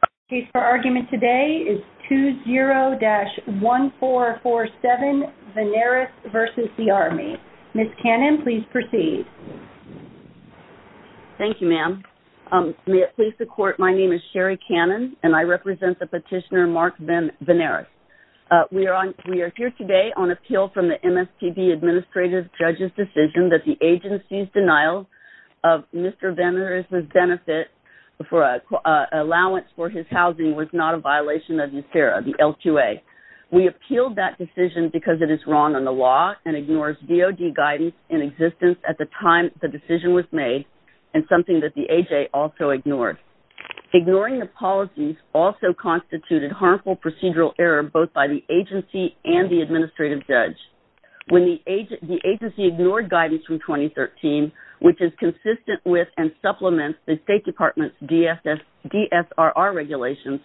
The case for argument today is 20-1447, Veneris v. Army. Ms. Cannon, please proceed. Thank you, ma'am. May it please the Court, my name is Sherri Cannon, and I represent the petitioner Mark Veneris. We are here today on appeal from the MSTD Administrative Judge's decision that the violation of his housing was not a violation of NSERA, the LQA. We appealed that decision because it is wrong on the law and ignores DOD guidance in existence at the time the decision was made, and something that the AJ also ignored. Ignoring the policies also constituted harmful procedural error both by the agency and the Administrative Judge. When the agency ignored guidance from 2013, which is consistent with and supplements the State Department's DSRR regulations,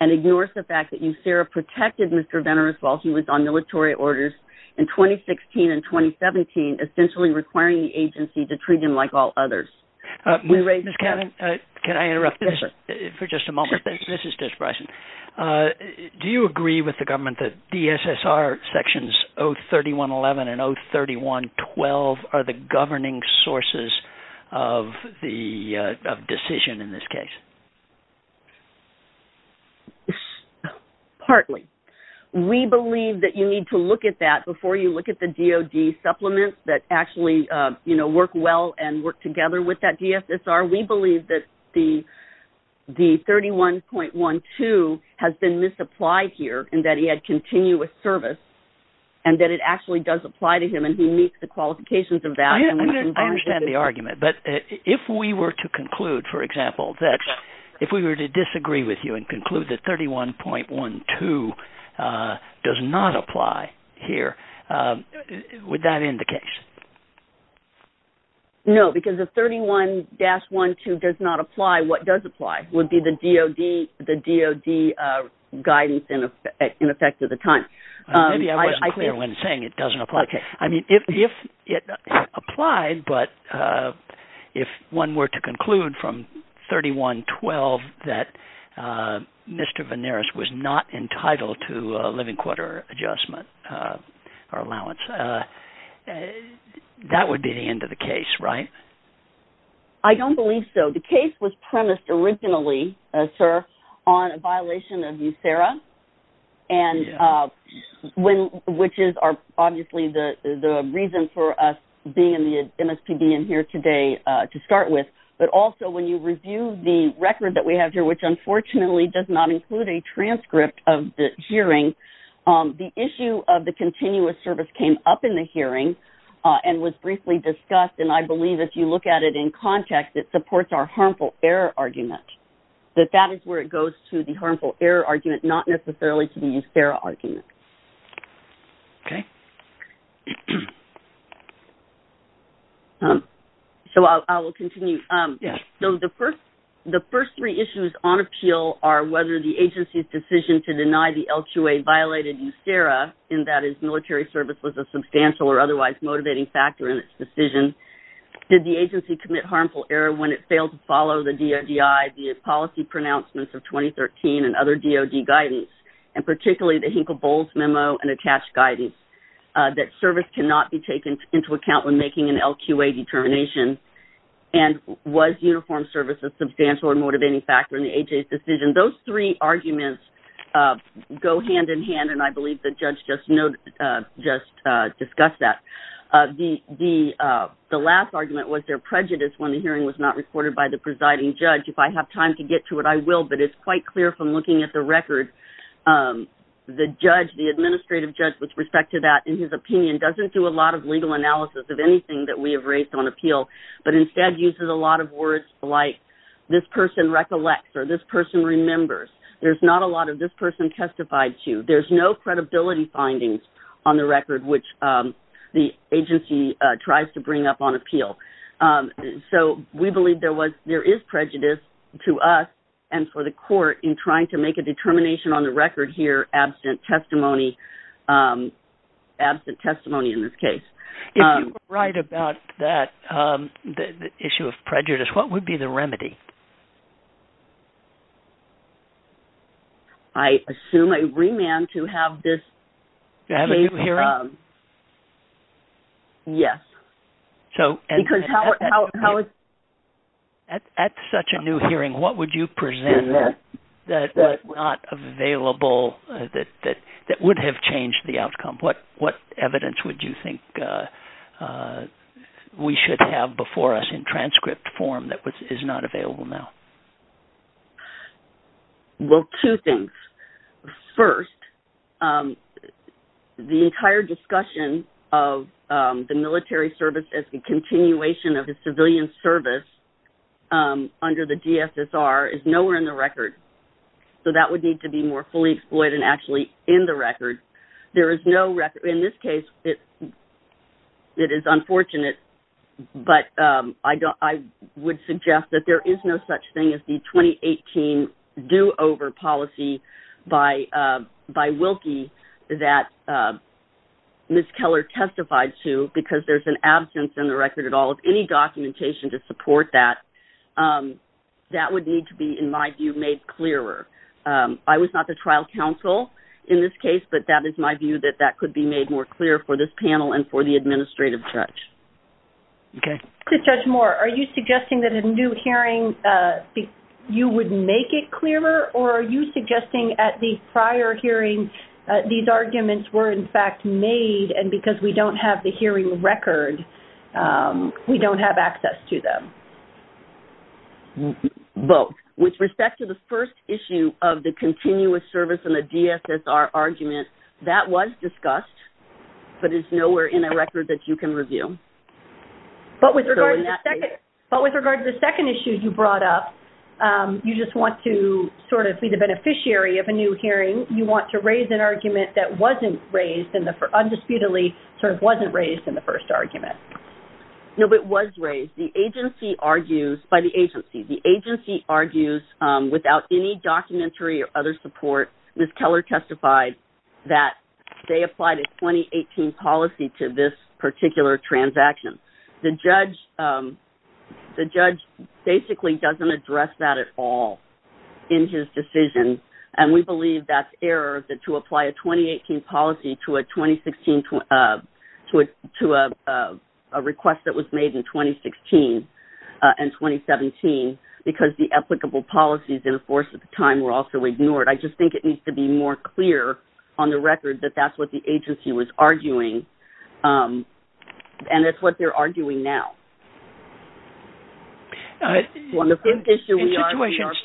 and ignores the fact that NSERA protected Mr. Veneris while he was on military orders in 2016 and 2017, essentially requiring the agency to treat him like all others. Ms. Cannon, can I interrupt this for just a moment? This is Judge Bryson. Do you agree with the government that DSSR Sections 031.11 and 031.12 are the governing sources of the decision in this case? Partly. We believe that you need to look at that before you look at the DOD supplements that actually work well and work together with that DSSR. We believe that the 31.12 has been misapplied here, and that he had continuous service, and that it actually does apply to him, and he meets the qualifications of that. I understand the argument, but if we were to conclude, for example, if we were to disagree with you and conclude that 31.12 does not apply here, would that end the case? No, because if 31-12 does not apply, what does apply? Would be the DOD guidance in effect at the time. Maybe I wasn't clear when saying it doesn't apply. I mean, if it applied, but if one were to conclude from 31.12 that Mr. Venaris was not entitled to a living quota adjustment or allowance, that would be the end of the case, right? I don't believe so. The case was premised originally, sir, on a violation of USERRA, which is obviously the reason for us being in the MSPB and here today to start with, but also when you review the record that we have here, which unfortunately does not include a transcript of the hearing, the issue of the continuous service came up in the hearing and was briefly discussed, and I believe if you look at it in context, it supports our harmful error argument, that that is where it goes to the harmful error argument, not necessarily to the USERRA argument. So I will continue. The first three issues on appeal are whether the agency's decision to deny the LQA violated USERRA, and that is military service was a substantial or otherwise motivating factor in its decision, did the agency commit harmful error when it failed to follow the DODI, the policy pronouncements of 2013, and other DOD guidance, and particularly the Hinkle-Bowles memo and attached guidance, that service cannot be taken into account when making an LQA determination, and was uniform service a substantial or motivating factor in the HA's decision. Those three arguments go hand in hand, and I believe the judge just discussed that. The last argument was there prejudice when the hearing was not recorded by the presiding judge. If I have time to get to it, I will, but it's quite clear from looking at the record, the judge, the administrative judge with respect to that in his opinion, doesn't do a lot of legal analysis of anything that we have raised on appeal, but instead uses a lot of words like this person recollects, or this person remembers. There's not a lot of this person can testify to. There's no credibility findings on the record which the agency tries to bring up on appeal. So we believe there is prejudice to us and for the court in trying to make a determination on the record here absent testimony, absent testimony in this case. If you were right about that, the issue of prejudice, what would be the remedy? I assume a remand to have this... To have a new hearing? Yes. At such a new hearing, what would you present that would have changed the outcome? What would have changed the outcome? Well, two things. First, the entire discussion of the military service as a continuation of the civilian service under the DSSR is nowhere in the record. So that would need to be more fully exploited and actually in the record. In this case, it is unfortunate, but I would suggest that there is no such thing as the 2018 do-over policy by Wilkie that Ms. Keller testified to because there's an absence in the record at all of any documentation to support that. That would need to be, in my view, made clearer. I was not the trial counsel in this case, but that is my view that that could be made more clear for this case. Okay. To Judge Moore, are you suggesting that a new hearing, you would make it clearer? Or are you suggesting at the prior hearing, these arguments were in fact made and because we don't have the hearing record, we don't have access to them? Both. With respect to the first issue of the continuous service and the DSSR argument, that was discussed, but it's nowhere in the record that you can review. But with regard to the second issue you brought up, you just want to sort of be the beneficiary of a new hearing. You want to raise an argument that wasn't raised in the first, undisputedly sort of wasn't raised in the first argument. No, it was raised. The agency argues, by the agency, the agency argues without any documentary or other support, Ms. Keller testified that they applied a 2018 policy to this particular transaction. The judge basically doesn't address that at all in his decision, and we believe that's error to apply a 2018 policy to a 2016, to a request that was made in 2016 and 2017 because the applicable policies in the course of the time were also ignored. I just think it needs to be more clear on the record that that's what the agency was arguing, and it's what they're arguing now. On the fifth issue, we are prejudiced.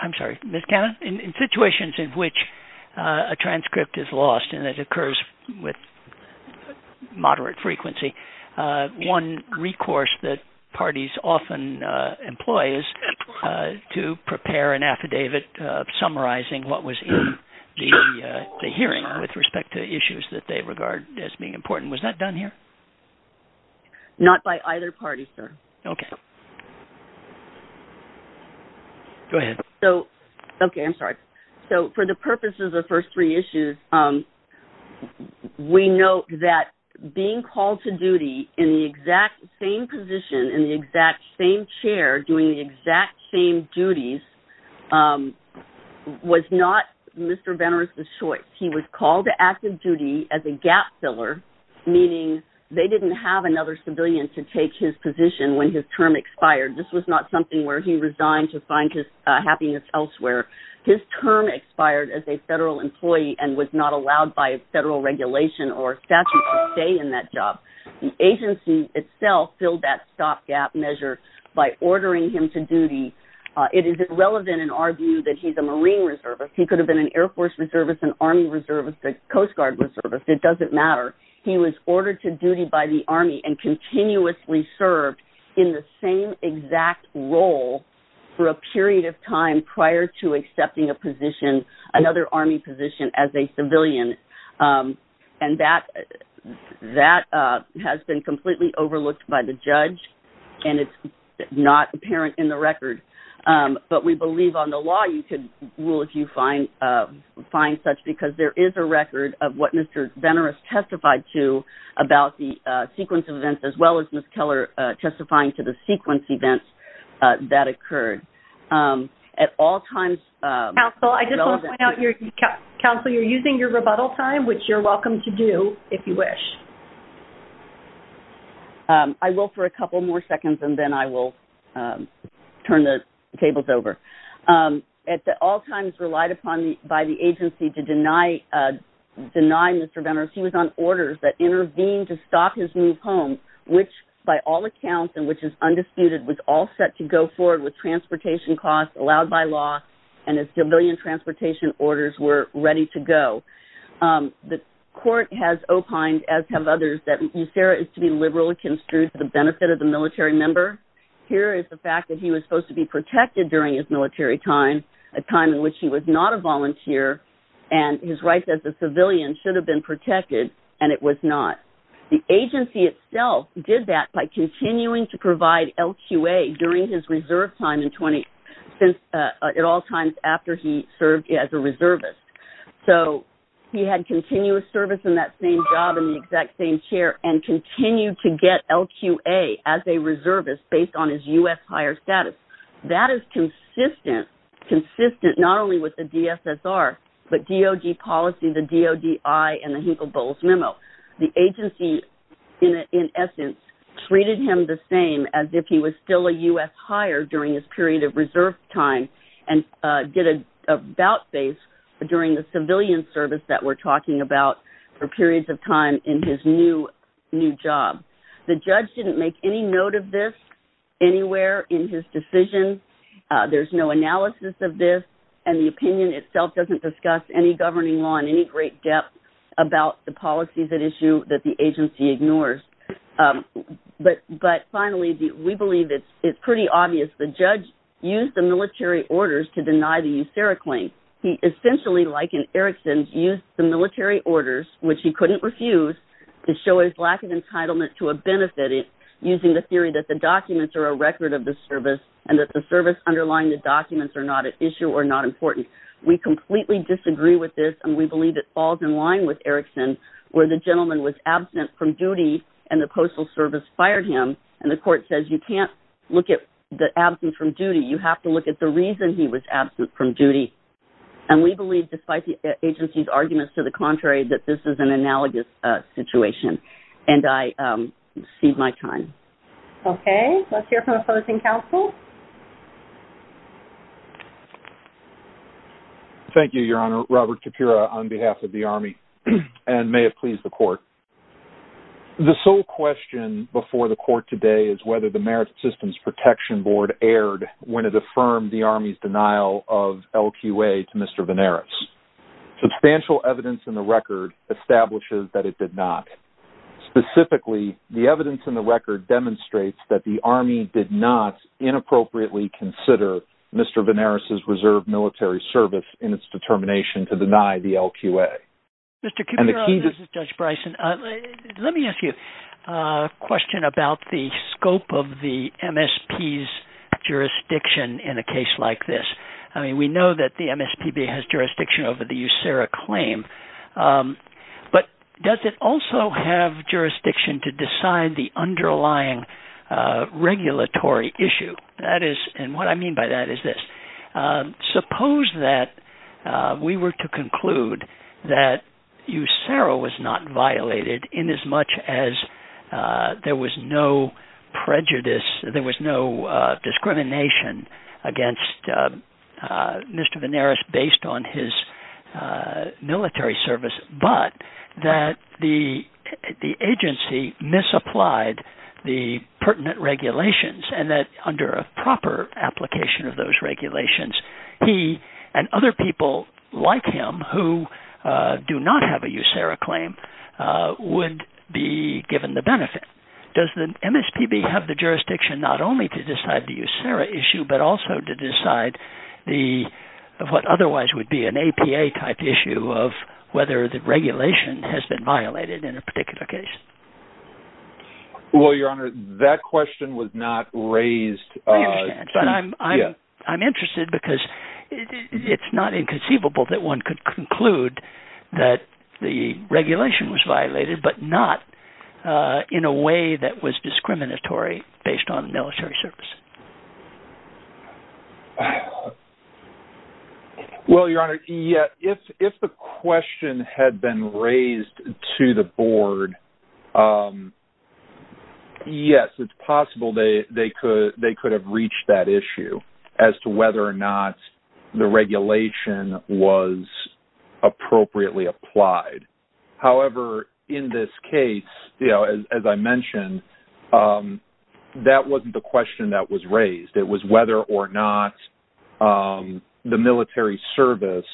I'm sorry, Ms. Cannon? In situations in which a transcript is lost and it occurs with moderate frequency, one recourse that parties often employ is to prepare an affidavit summarizing what was in the hearing with respect to issues that they regard as being important. Was that done here? Not by either party, sir. Okay. Go ahead. Okay, I'm sorry. So, for the purposes of the first three issues, we note that being called to duty in the exact same position, in the exact same chair, doing the exact same duties, was not Mr. Benner's choice. He was called to active duty as a gap filler, meaning they didn't have another civilian to take his position when his term expired. This was not something where he resigned to find happiness elsewhere. His term expired as a federal employee and was not allowed by federal regulation or statute to stay in that job. The agency itself filled that stopgap measure by ordering him to duty. It is irrelevant in our view that he's a Marine reservist. He could have been an Air Force reservist, an Army reservist, a Coast Guard reservist. It doesn't matter. He was ordered to duty by the Army and continuously served in the same exact role for a period of time prior to accepting a position, another Army position, as a civilian. And that has been completely overlooked by the judge, and it's not apparent in the record. But we believe on the law you can rule if you find such, because there is a record of what sequence events that occurred. At all times... Counsel, I just want to point out you're using your rebuttal time, which you're welcome to do if you wish. I will for a couple more seconds, and then I will turn the tables over. At all times relied upon by the agency to deny Mr. Benner, he was on orders that intervened to stop his move home, which by all accounts, and which is undisputed, was all set to go forward with transportation costs allowed by law, and as civilian transportation orders were ready to go. The court has opined, as have others, that Usera is to be liberally construed for the benefit of the military member. Here is the fact that he was supposed to be protected during his military time, a time in which he was not a volunteer, and his life as a civilian should have been protected, and it was not. The agency itself did that by continuing to provide LQA during his reserve time at all times after he served as a reservist. So he had continuous service in that same job in the exact same chair, and continued to get LQA as a reservist based on his U.S. higher status. That is consistent, consistent not only with the DSSR, but DOG policy, the DODI, and the Hinkle-Bowles memo. The agency, in essence, treated him the same as if he was still a U.S. higher during his period of reserve time, and get a bout face during the civilian service that we're talking about for periods of time in his new job. The judge didn't make any note of this anywhere in his decision. There's no analysis of this, and the opinion itself doesn't discuss any governing law in any great depth about the policies at issue that the agency ignores. But finally, we believe it's pretty obvious the judge used the military orders to deny the Usera claim. He essentially, like in Erickson's, used the military orders, which he couldn't refuse, to show his lack of entitlement to a benefit using the theory that the documents are a record of the service, and that the service underlying the documents are not at issue or not important. We completely disagree with this, and we believe it falls in line with Erickson, where the gentleman was absent from duty, and the Postal Service fired him, and the court says you can't look at the You have to look at the reason he was absent from duty, and we believe, despite the agency's arguments to the contrary, that this is an analogous situation, and I cede my time. Okay. Let's hear from a opposing counsel. Thank you, Your Honor. Robert Capura, on behalf of the Army, and may it please the Court. The sole question before the Court today is whether the Merit Systems Protection Board erred when it affirmed the Army's denial of LQA to Mr. Venaris. Substantial evidence in the record establishes that it did not. Specifically, the evidence in the record demonstrates that the Army did not inappropriately consider Mr. Venaris's reserve military service in its determination to deny the LQA. Mr. Capura, this is Judge Bryson. Let me ask you a question about the scope of the MSP's jurisdiction in a case like this. I mean, we know that the MSPB has jurisdiction over the USERRA claim, but does it also have jurisdiction to decide the underlying regulatory issue? And what I mean by that is this. Suppose that we were to conclude that USERRA was not violated in as much as there was no prejudice, there was no discrimination against Mr. Venaris based on his military service, but that the agency misapplied the pertinent regulations, and that under a proper application of those regulations, he and other people like him who do not have a USERRA claim would be given the benefit. Does the MSPB have the jurisdiction not only to decide the USERRA issue, but also to decide what otherwise would be an APA-type issue of whether the regulation has been violated in a particular case? Well, Your Honor, that question was not raised… I understand, but I'm interested because it's not inconceivable that one could conclude that the regulation was violated, but not in a way that was discriminatory based on military service. Well, Your Honor, if the question had been raised to the board, yes, it's possible they could have reached that issue as to whether or not the regulation was appropriately applied. However, in this case, as I mentioned, that wasn't the question that was raised. It was whether or not the military service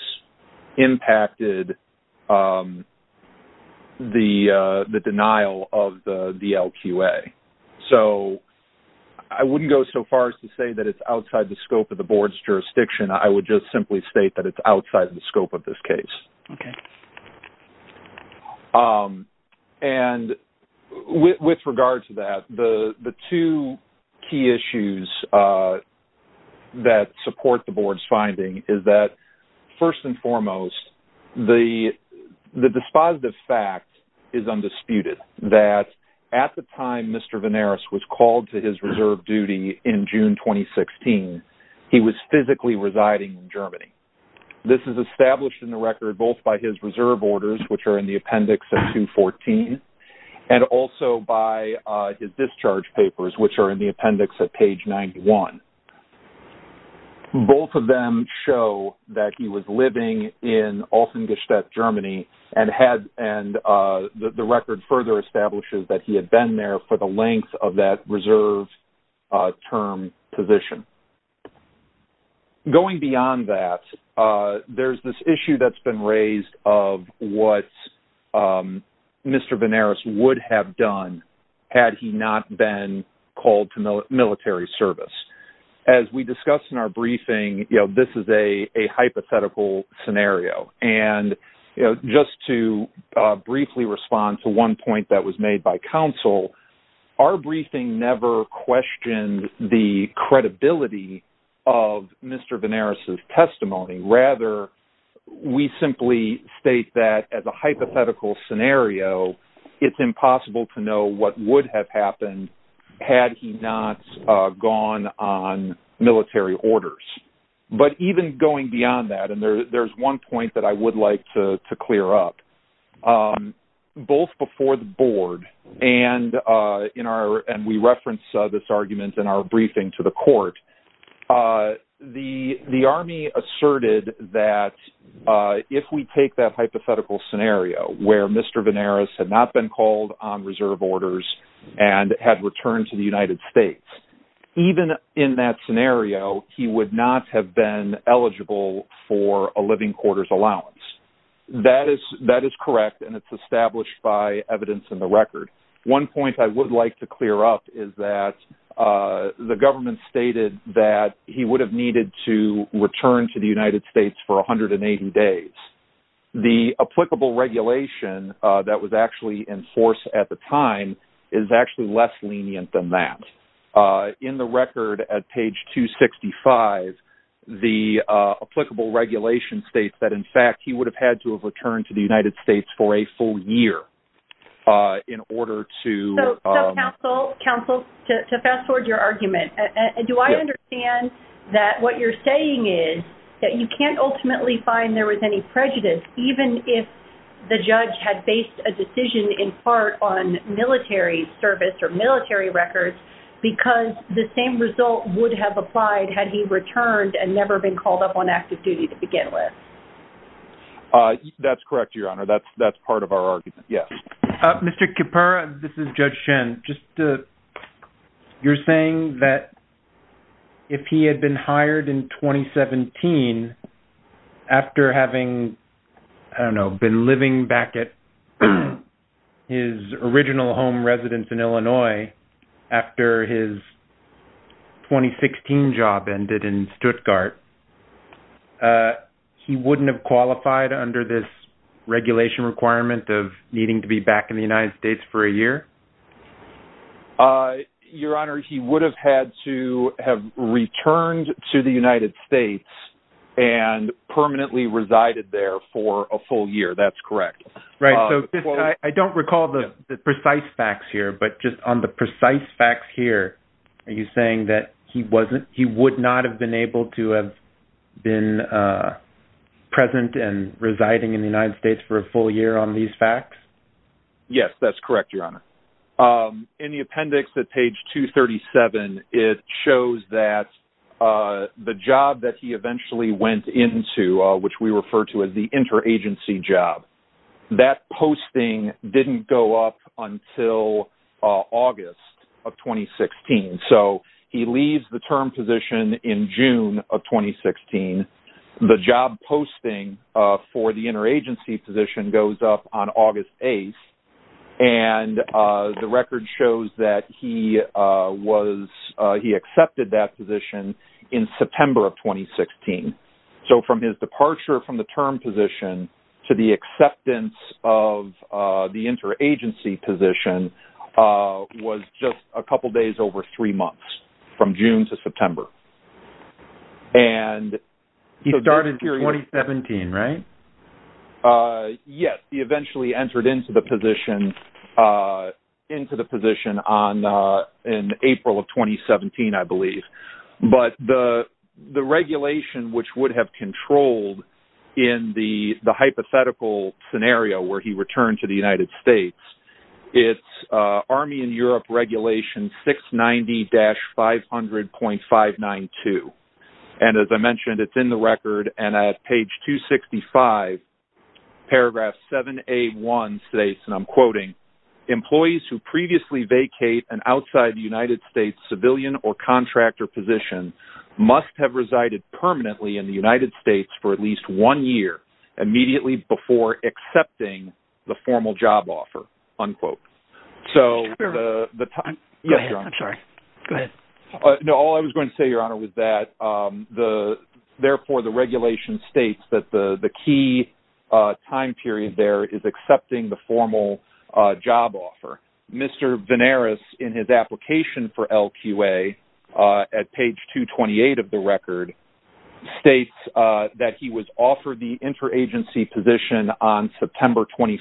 impacted the denial of the DLQA. So I wouldn't go so far as to say that it's outside the scope of the board's jurisdiction. I would just simply state that it's outside the scope of this case. Okay. And with regard to that, the two key issues that support the board's finding is that, first and foremost, the dispositive fact is undisputed, that at the time Mr. Venaris was called to his reserve duty in June 2016, this is established in the record both by his reserve orders, which are in the appendix at 214, and also by his discharge papers, which are in the appendix at page 91. Both of them show that he was living in Olsengestadt, Germany, and the record further establishes that he had been there for the length of that reserve term position. Going beyond that, there's this issue that's been raised of what Mr. Venaris would have done had he not been called to military service. As we discussed in our briefing, this is a hypothetical scenario. And just to briefly respond to one point that was made by counsel, our briefing never questioned the credibility of Mr. Venaris' testimony. Rather, we simply state that, as a hypothetical scenario, it's impossible to know what would have happened had he not gone on military orders. But even going beyond that, and there's one point that I would like to clear up, both before the board, and we reference this argument in our briefing to the court, the Army asserted that if we take that hypothetical scenario where Mr. Venaris had not been called on reserve orders and had returned to the United States, even in that scenario, he would not have been eligible for a living quarters allowance. That is correct, and it's established by evidence in the record. One point I would like to clear up is that the government stated that he would have needed to return to the United States for 180 days. The applicable regulation that was actually in force at the time is actually less lenient than that. In the record at page 265, the applicable regulation states that, in fact, he would have had to have returned to the United States for a full year in order to... So, counsel, to fast forward your argument, do I understand that what you're saying is that you can't ultimately find there was any prejudice, even if the judge had based a decision in part on military service or military records, because the same result would have applied had he returned and never been called up on active duty to begin with? That's correct, Your Honor. That's part of our argument, yes. Mr. Kippur, this is Judge Shen. You're saying that if he had been hired in 2017 after having, I don't know, been living back at his original home residence in Illinois after his 2016 job ended in Stuttgart, he wouldn't have qualified under this regulation requirement of needing to be back in the United States for a year? Your Honor, he would have had to have returned to the United States and permanently resided there for a full year. That's correct. Right, so I don't recall the precise facts here, but just on the precise facts here, are you saying that he would not have been able to have been present and residing in the United States for a full year on these facts? Yes, that's correct, Your Honor. In the appendix at page 237, it shows that the job that he eventually went into, which we refer to as the interagency job, that posting didn't go up until August of 2016. So he leaves the term position in June of 2016. The job posting for the interagency position goes up on August 8th, and the record shows that he accepted that position in September of 2016. So from his departure from the term position to the acceptance of the interagency position was just a couple days over three months, from June to September. He started in 2017, right? Yes, he eventually entered into the position in April of 2017, I believe. But the regulation which would have controlled in the hypothetical scenario where he returned to the United States, it's Army and Europe Regulation 690-500.592. And as I mentioned, it's in the record. And at page 265, paragraph 7A1 states, and I'm quoting, employees who previously vacate an outside United States civilian or contractor position must have resided permanently in the United States for at least one year immediately before accepting the formal job offer, unquote. So the time... Go ahead, I'm sorry. Go ahead. No, all I was going to say, Your Honor, was that therefore the regulation states that the key time period there is accepting the formal job offer. Mr. Venaris, in his application for LQA, at page 228 of the record, states that he was offered the interagency position on September 21st,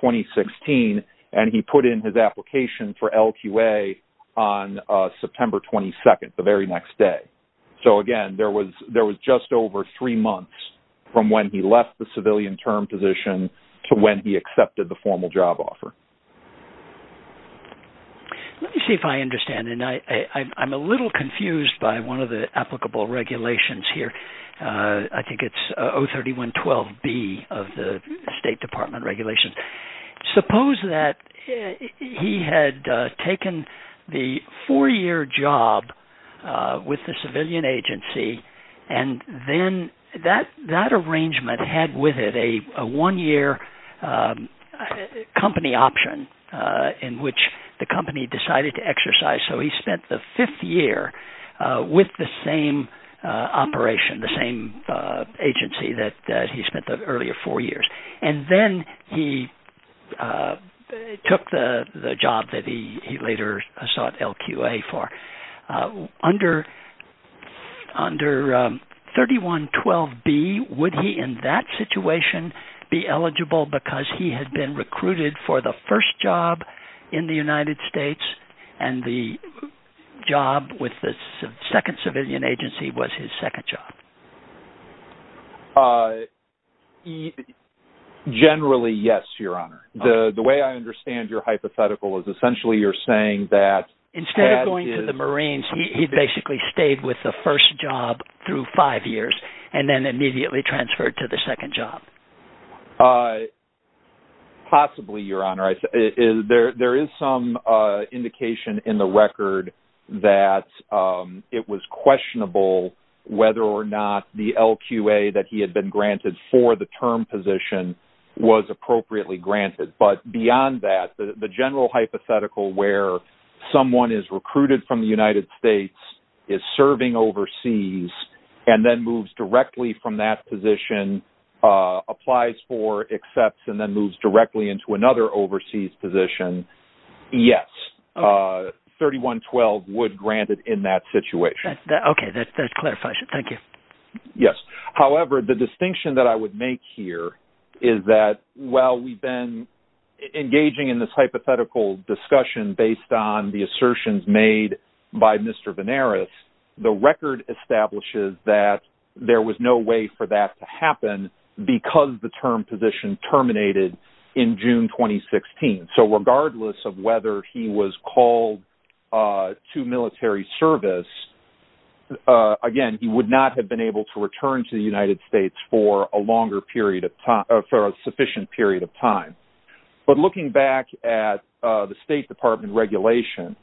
2016, and he put in his application for LQA on September 22nd, the very next day. So again, there was just over three months from when he left the civilian term position to when he accepted the formal job offer. Let me see if I understand. And I'm a little confused by one of the applicable regulations here. I think it's 03112B of the State Department regulations. Suppose that he had taken the four-year job with the civilian agency, and then that arrangement had with it a one-year company option in which the company decided to exercise. So he spent the fifth year with the same operation, the same agency that he spent the earlier four years. And then he took the job that he later sought LQA for. Under 03112B, would he in that situation be eligible because he had been recruited for the first job in the United States, and the job with the second civilian agency was his second job? Generally, yes, Your Honor. The way I understand your hypothetical is essentially you're saying that instead of going to the Marines, he basically stayed with the first job through five years and then immediately transferred to the second job. Possibly, Your Honor. There is some indication in the record that it was questionable whether or not the LQA that he had been granted for the term position was appropriately granted. But beyond that, the general hypothetical where someone is recruited from the United States, is serving overseas, and then moves directly from that position, applies for, accepts, and then moves directly into another overseas position, yes, 03112 would grant it in that situation. Okay, that's clarification. Thank you. Yes. However, the distinction that I would make here is that while we've been engaging in this hypothetical discussion based on the assertions made by Mr. Venaris, the record establishes that there was no way for that to happen because the term position terminated in June 2016. So regardless of whether he was called to military service, again, he would not have been able to return to the United States for a longer period of time, for a sufficient period of time. But looking back at the State Department regulation,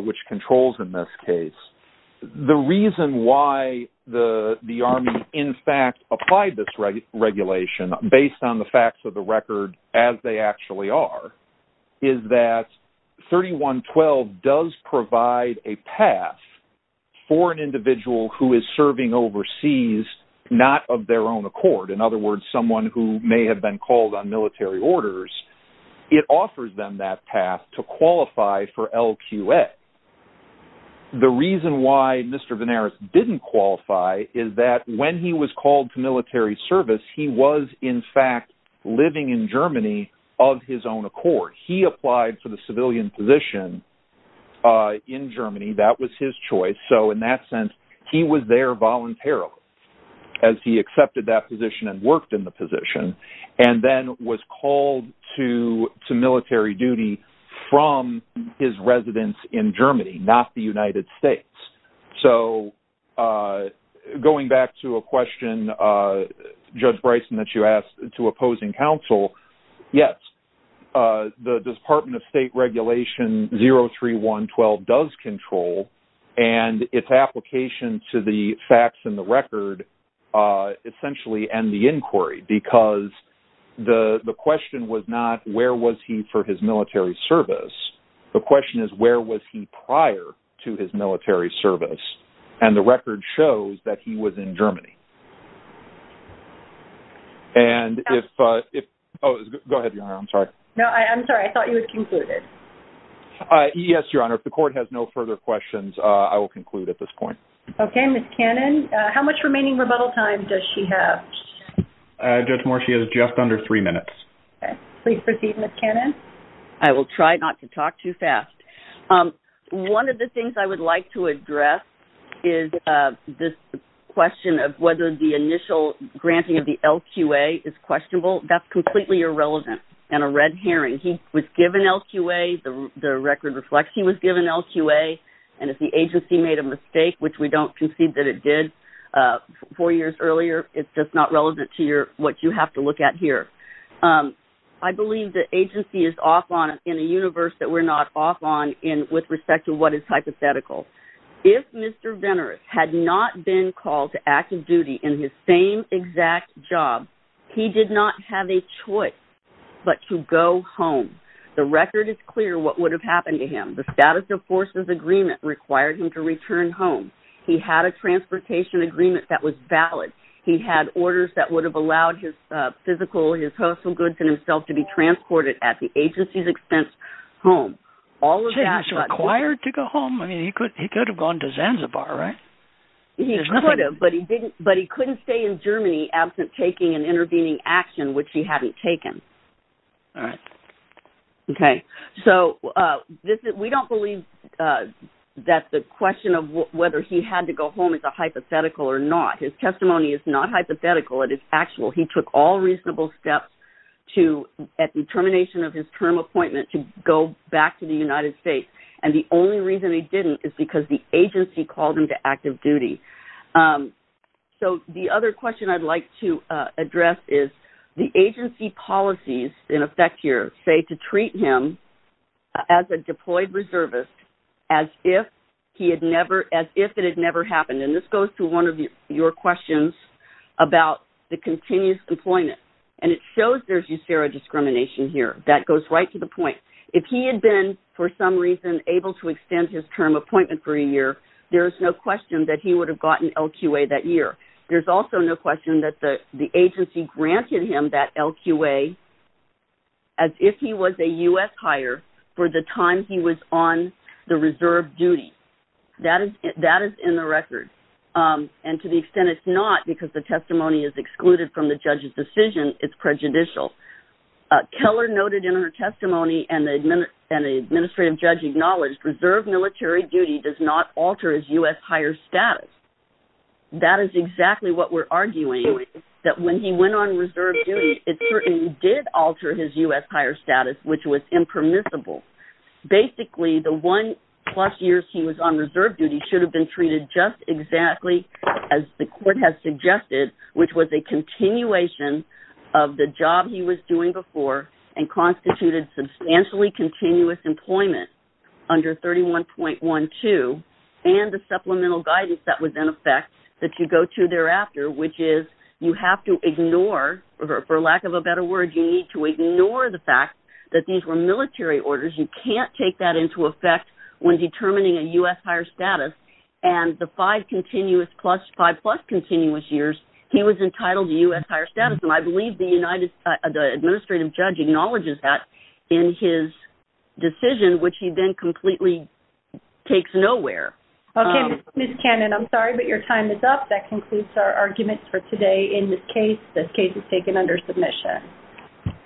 which controls in this case, the reason why the Army in fact applied this regulation based on the facts of the record as they actually are, is that 3112 does provide a path for an individual who is serving overseas not of their own accord. In other words, someone who may have been called on military orders. It offers them that path to qualify for LQA. The reason why Mr. Venaris didn't qualify is that when he was called to military service, he was in fact living in Germany of his own accord. He applied for the civilian position in Germany. That was his choice. So in that sense, he was there voluntarily as he accepted that position and worked in the position and then was called to military duty from his residence in Germany, not the United States. So going back to a question, Judge Bryson, that you asked to opposing counsel, yes, the Department of State regulation 03112 does control and its application to the facts in the record essentially end the inquiry because the question was not where was he for his military service. The question is where was he prior to his military service. And the record shows that he was in Germany. Go ahead, Your Honor. I'm sorry. No, I'm sorry. I thought you had concluded. Yes, Your Honor. If the court has no further questions, I will conclude at this point. Okay. Ms. Cannon, how much remaining rebuttal time does she have? Judge Moore, she has just under three minutes. Okay. Please proceed, Ms. Cannon. I will try not to talk too fast. One of the things I would like to address is this question of whether the initial granting of the LQA is questionable. That's completely irrelevant and a red herring. He was given LQA. The record reflects he was given LQA, and if the agency made a mistake, which we don't concede that it did four years earlier, it's just not relevant to what you have to look at here. I believe the agency is off on it in a universe that we're not off on with respect to what is hypothetical. If Mr. Venner had not been called to active duty in his same exact job, he did not have a choice but to go home. The record is clear what would have happened to him. The Status of Forces Agreement required him to return home. He had a transportation agreement that was valid. He had orders that would have allowed his physical, his personal goods, and himself to be transported at the agency's expense home. So he was required to go home? I mean, he could have gone to Zanzibar, right? He could have, but he couldn't stay in Germany absent taking and intervening action, which he hadn't taken. All right. Okay. So we don't believe that the question of whether he had to go home is a hypothetical or not. His testimony is not hypothetical. It is actual. He took all reasonable steps at the termination of his term appointment to go back to the United States. And the only reason he didn't is because the agency called him to active duty. So the other question I'd like to address is the agency policies in effect here say to treat him as a deployed reservist as if it had never happened. And this goes to one of your questions about the continuous employment. And it shows there's USERA discrimination here. That goes right to the point. If he had been, for some reason, able to extend his term appointment for a year, there is no question that he would have gotten LQA that year. There's also no question that the agency granted him that LQA as if he was a U.S. hire for the time he was on the reserve duty. That is in the record. And to the extent it's not because the testimony is excluded from the judge's decision, it's prejudicial. Keller noted in her testimony and the administrative judge acknowledged reserve military duty does not alter his U.S. hire status. That is exactly what we're arguing, that when he went on reserve duty, it certainly did alter his U.S. hire status, which was impermissible. Basically, the one-plus years he was on reserve duty should have been treated just exactly as the court has suggested, which was a continuation of the job he was doing before and constituted substantially continuous employment under 31.12 and the supplemental guidance that was in effect that you go to thereafter, which is you have to ignore, for lack of a better word, you need to ignore the fact that these were military orders. You can't take that into effect when determining a U.S. hire status. And the five-plus continuous years, he was entitled to U.S. hire status. And I believe the administrative judge acknowledges that in his decision, which he then completely takes nowhere. Okay, Ms. Cannon, I'm sorry, but your time is up. That concludes our arguments for today in this case. This case is taken under submission.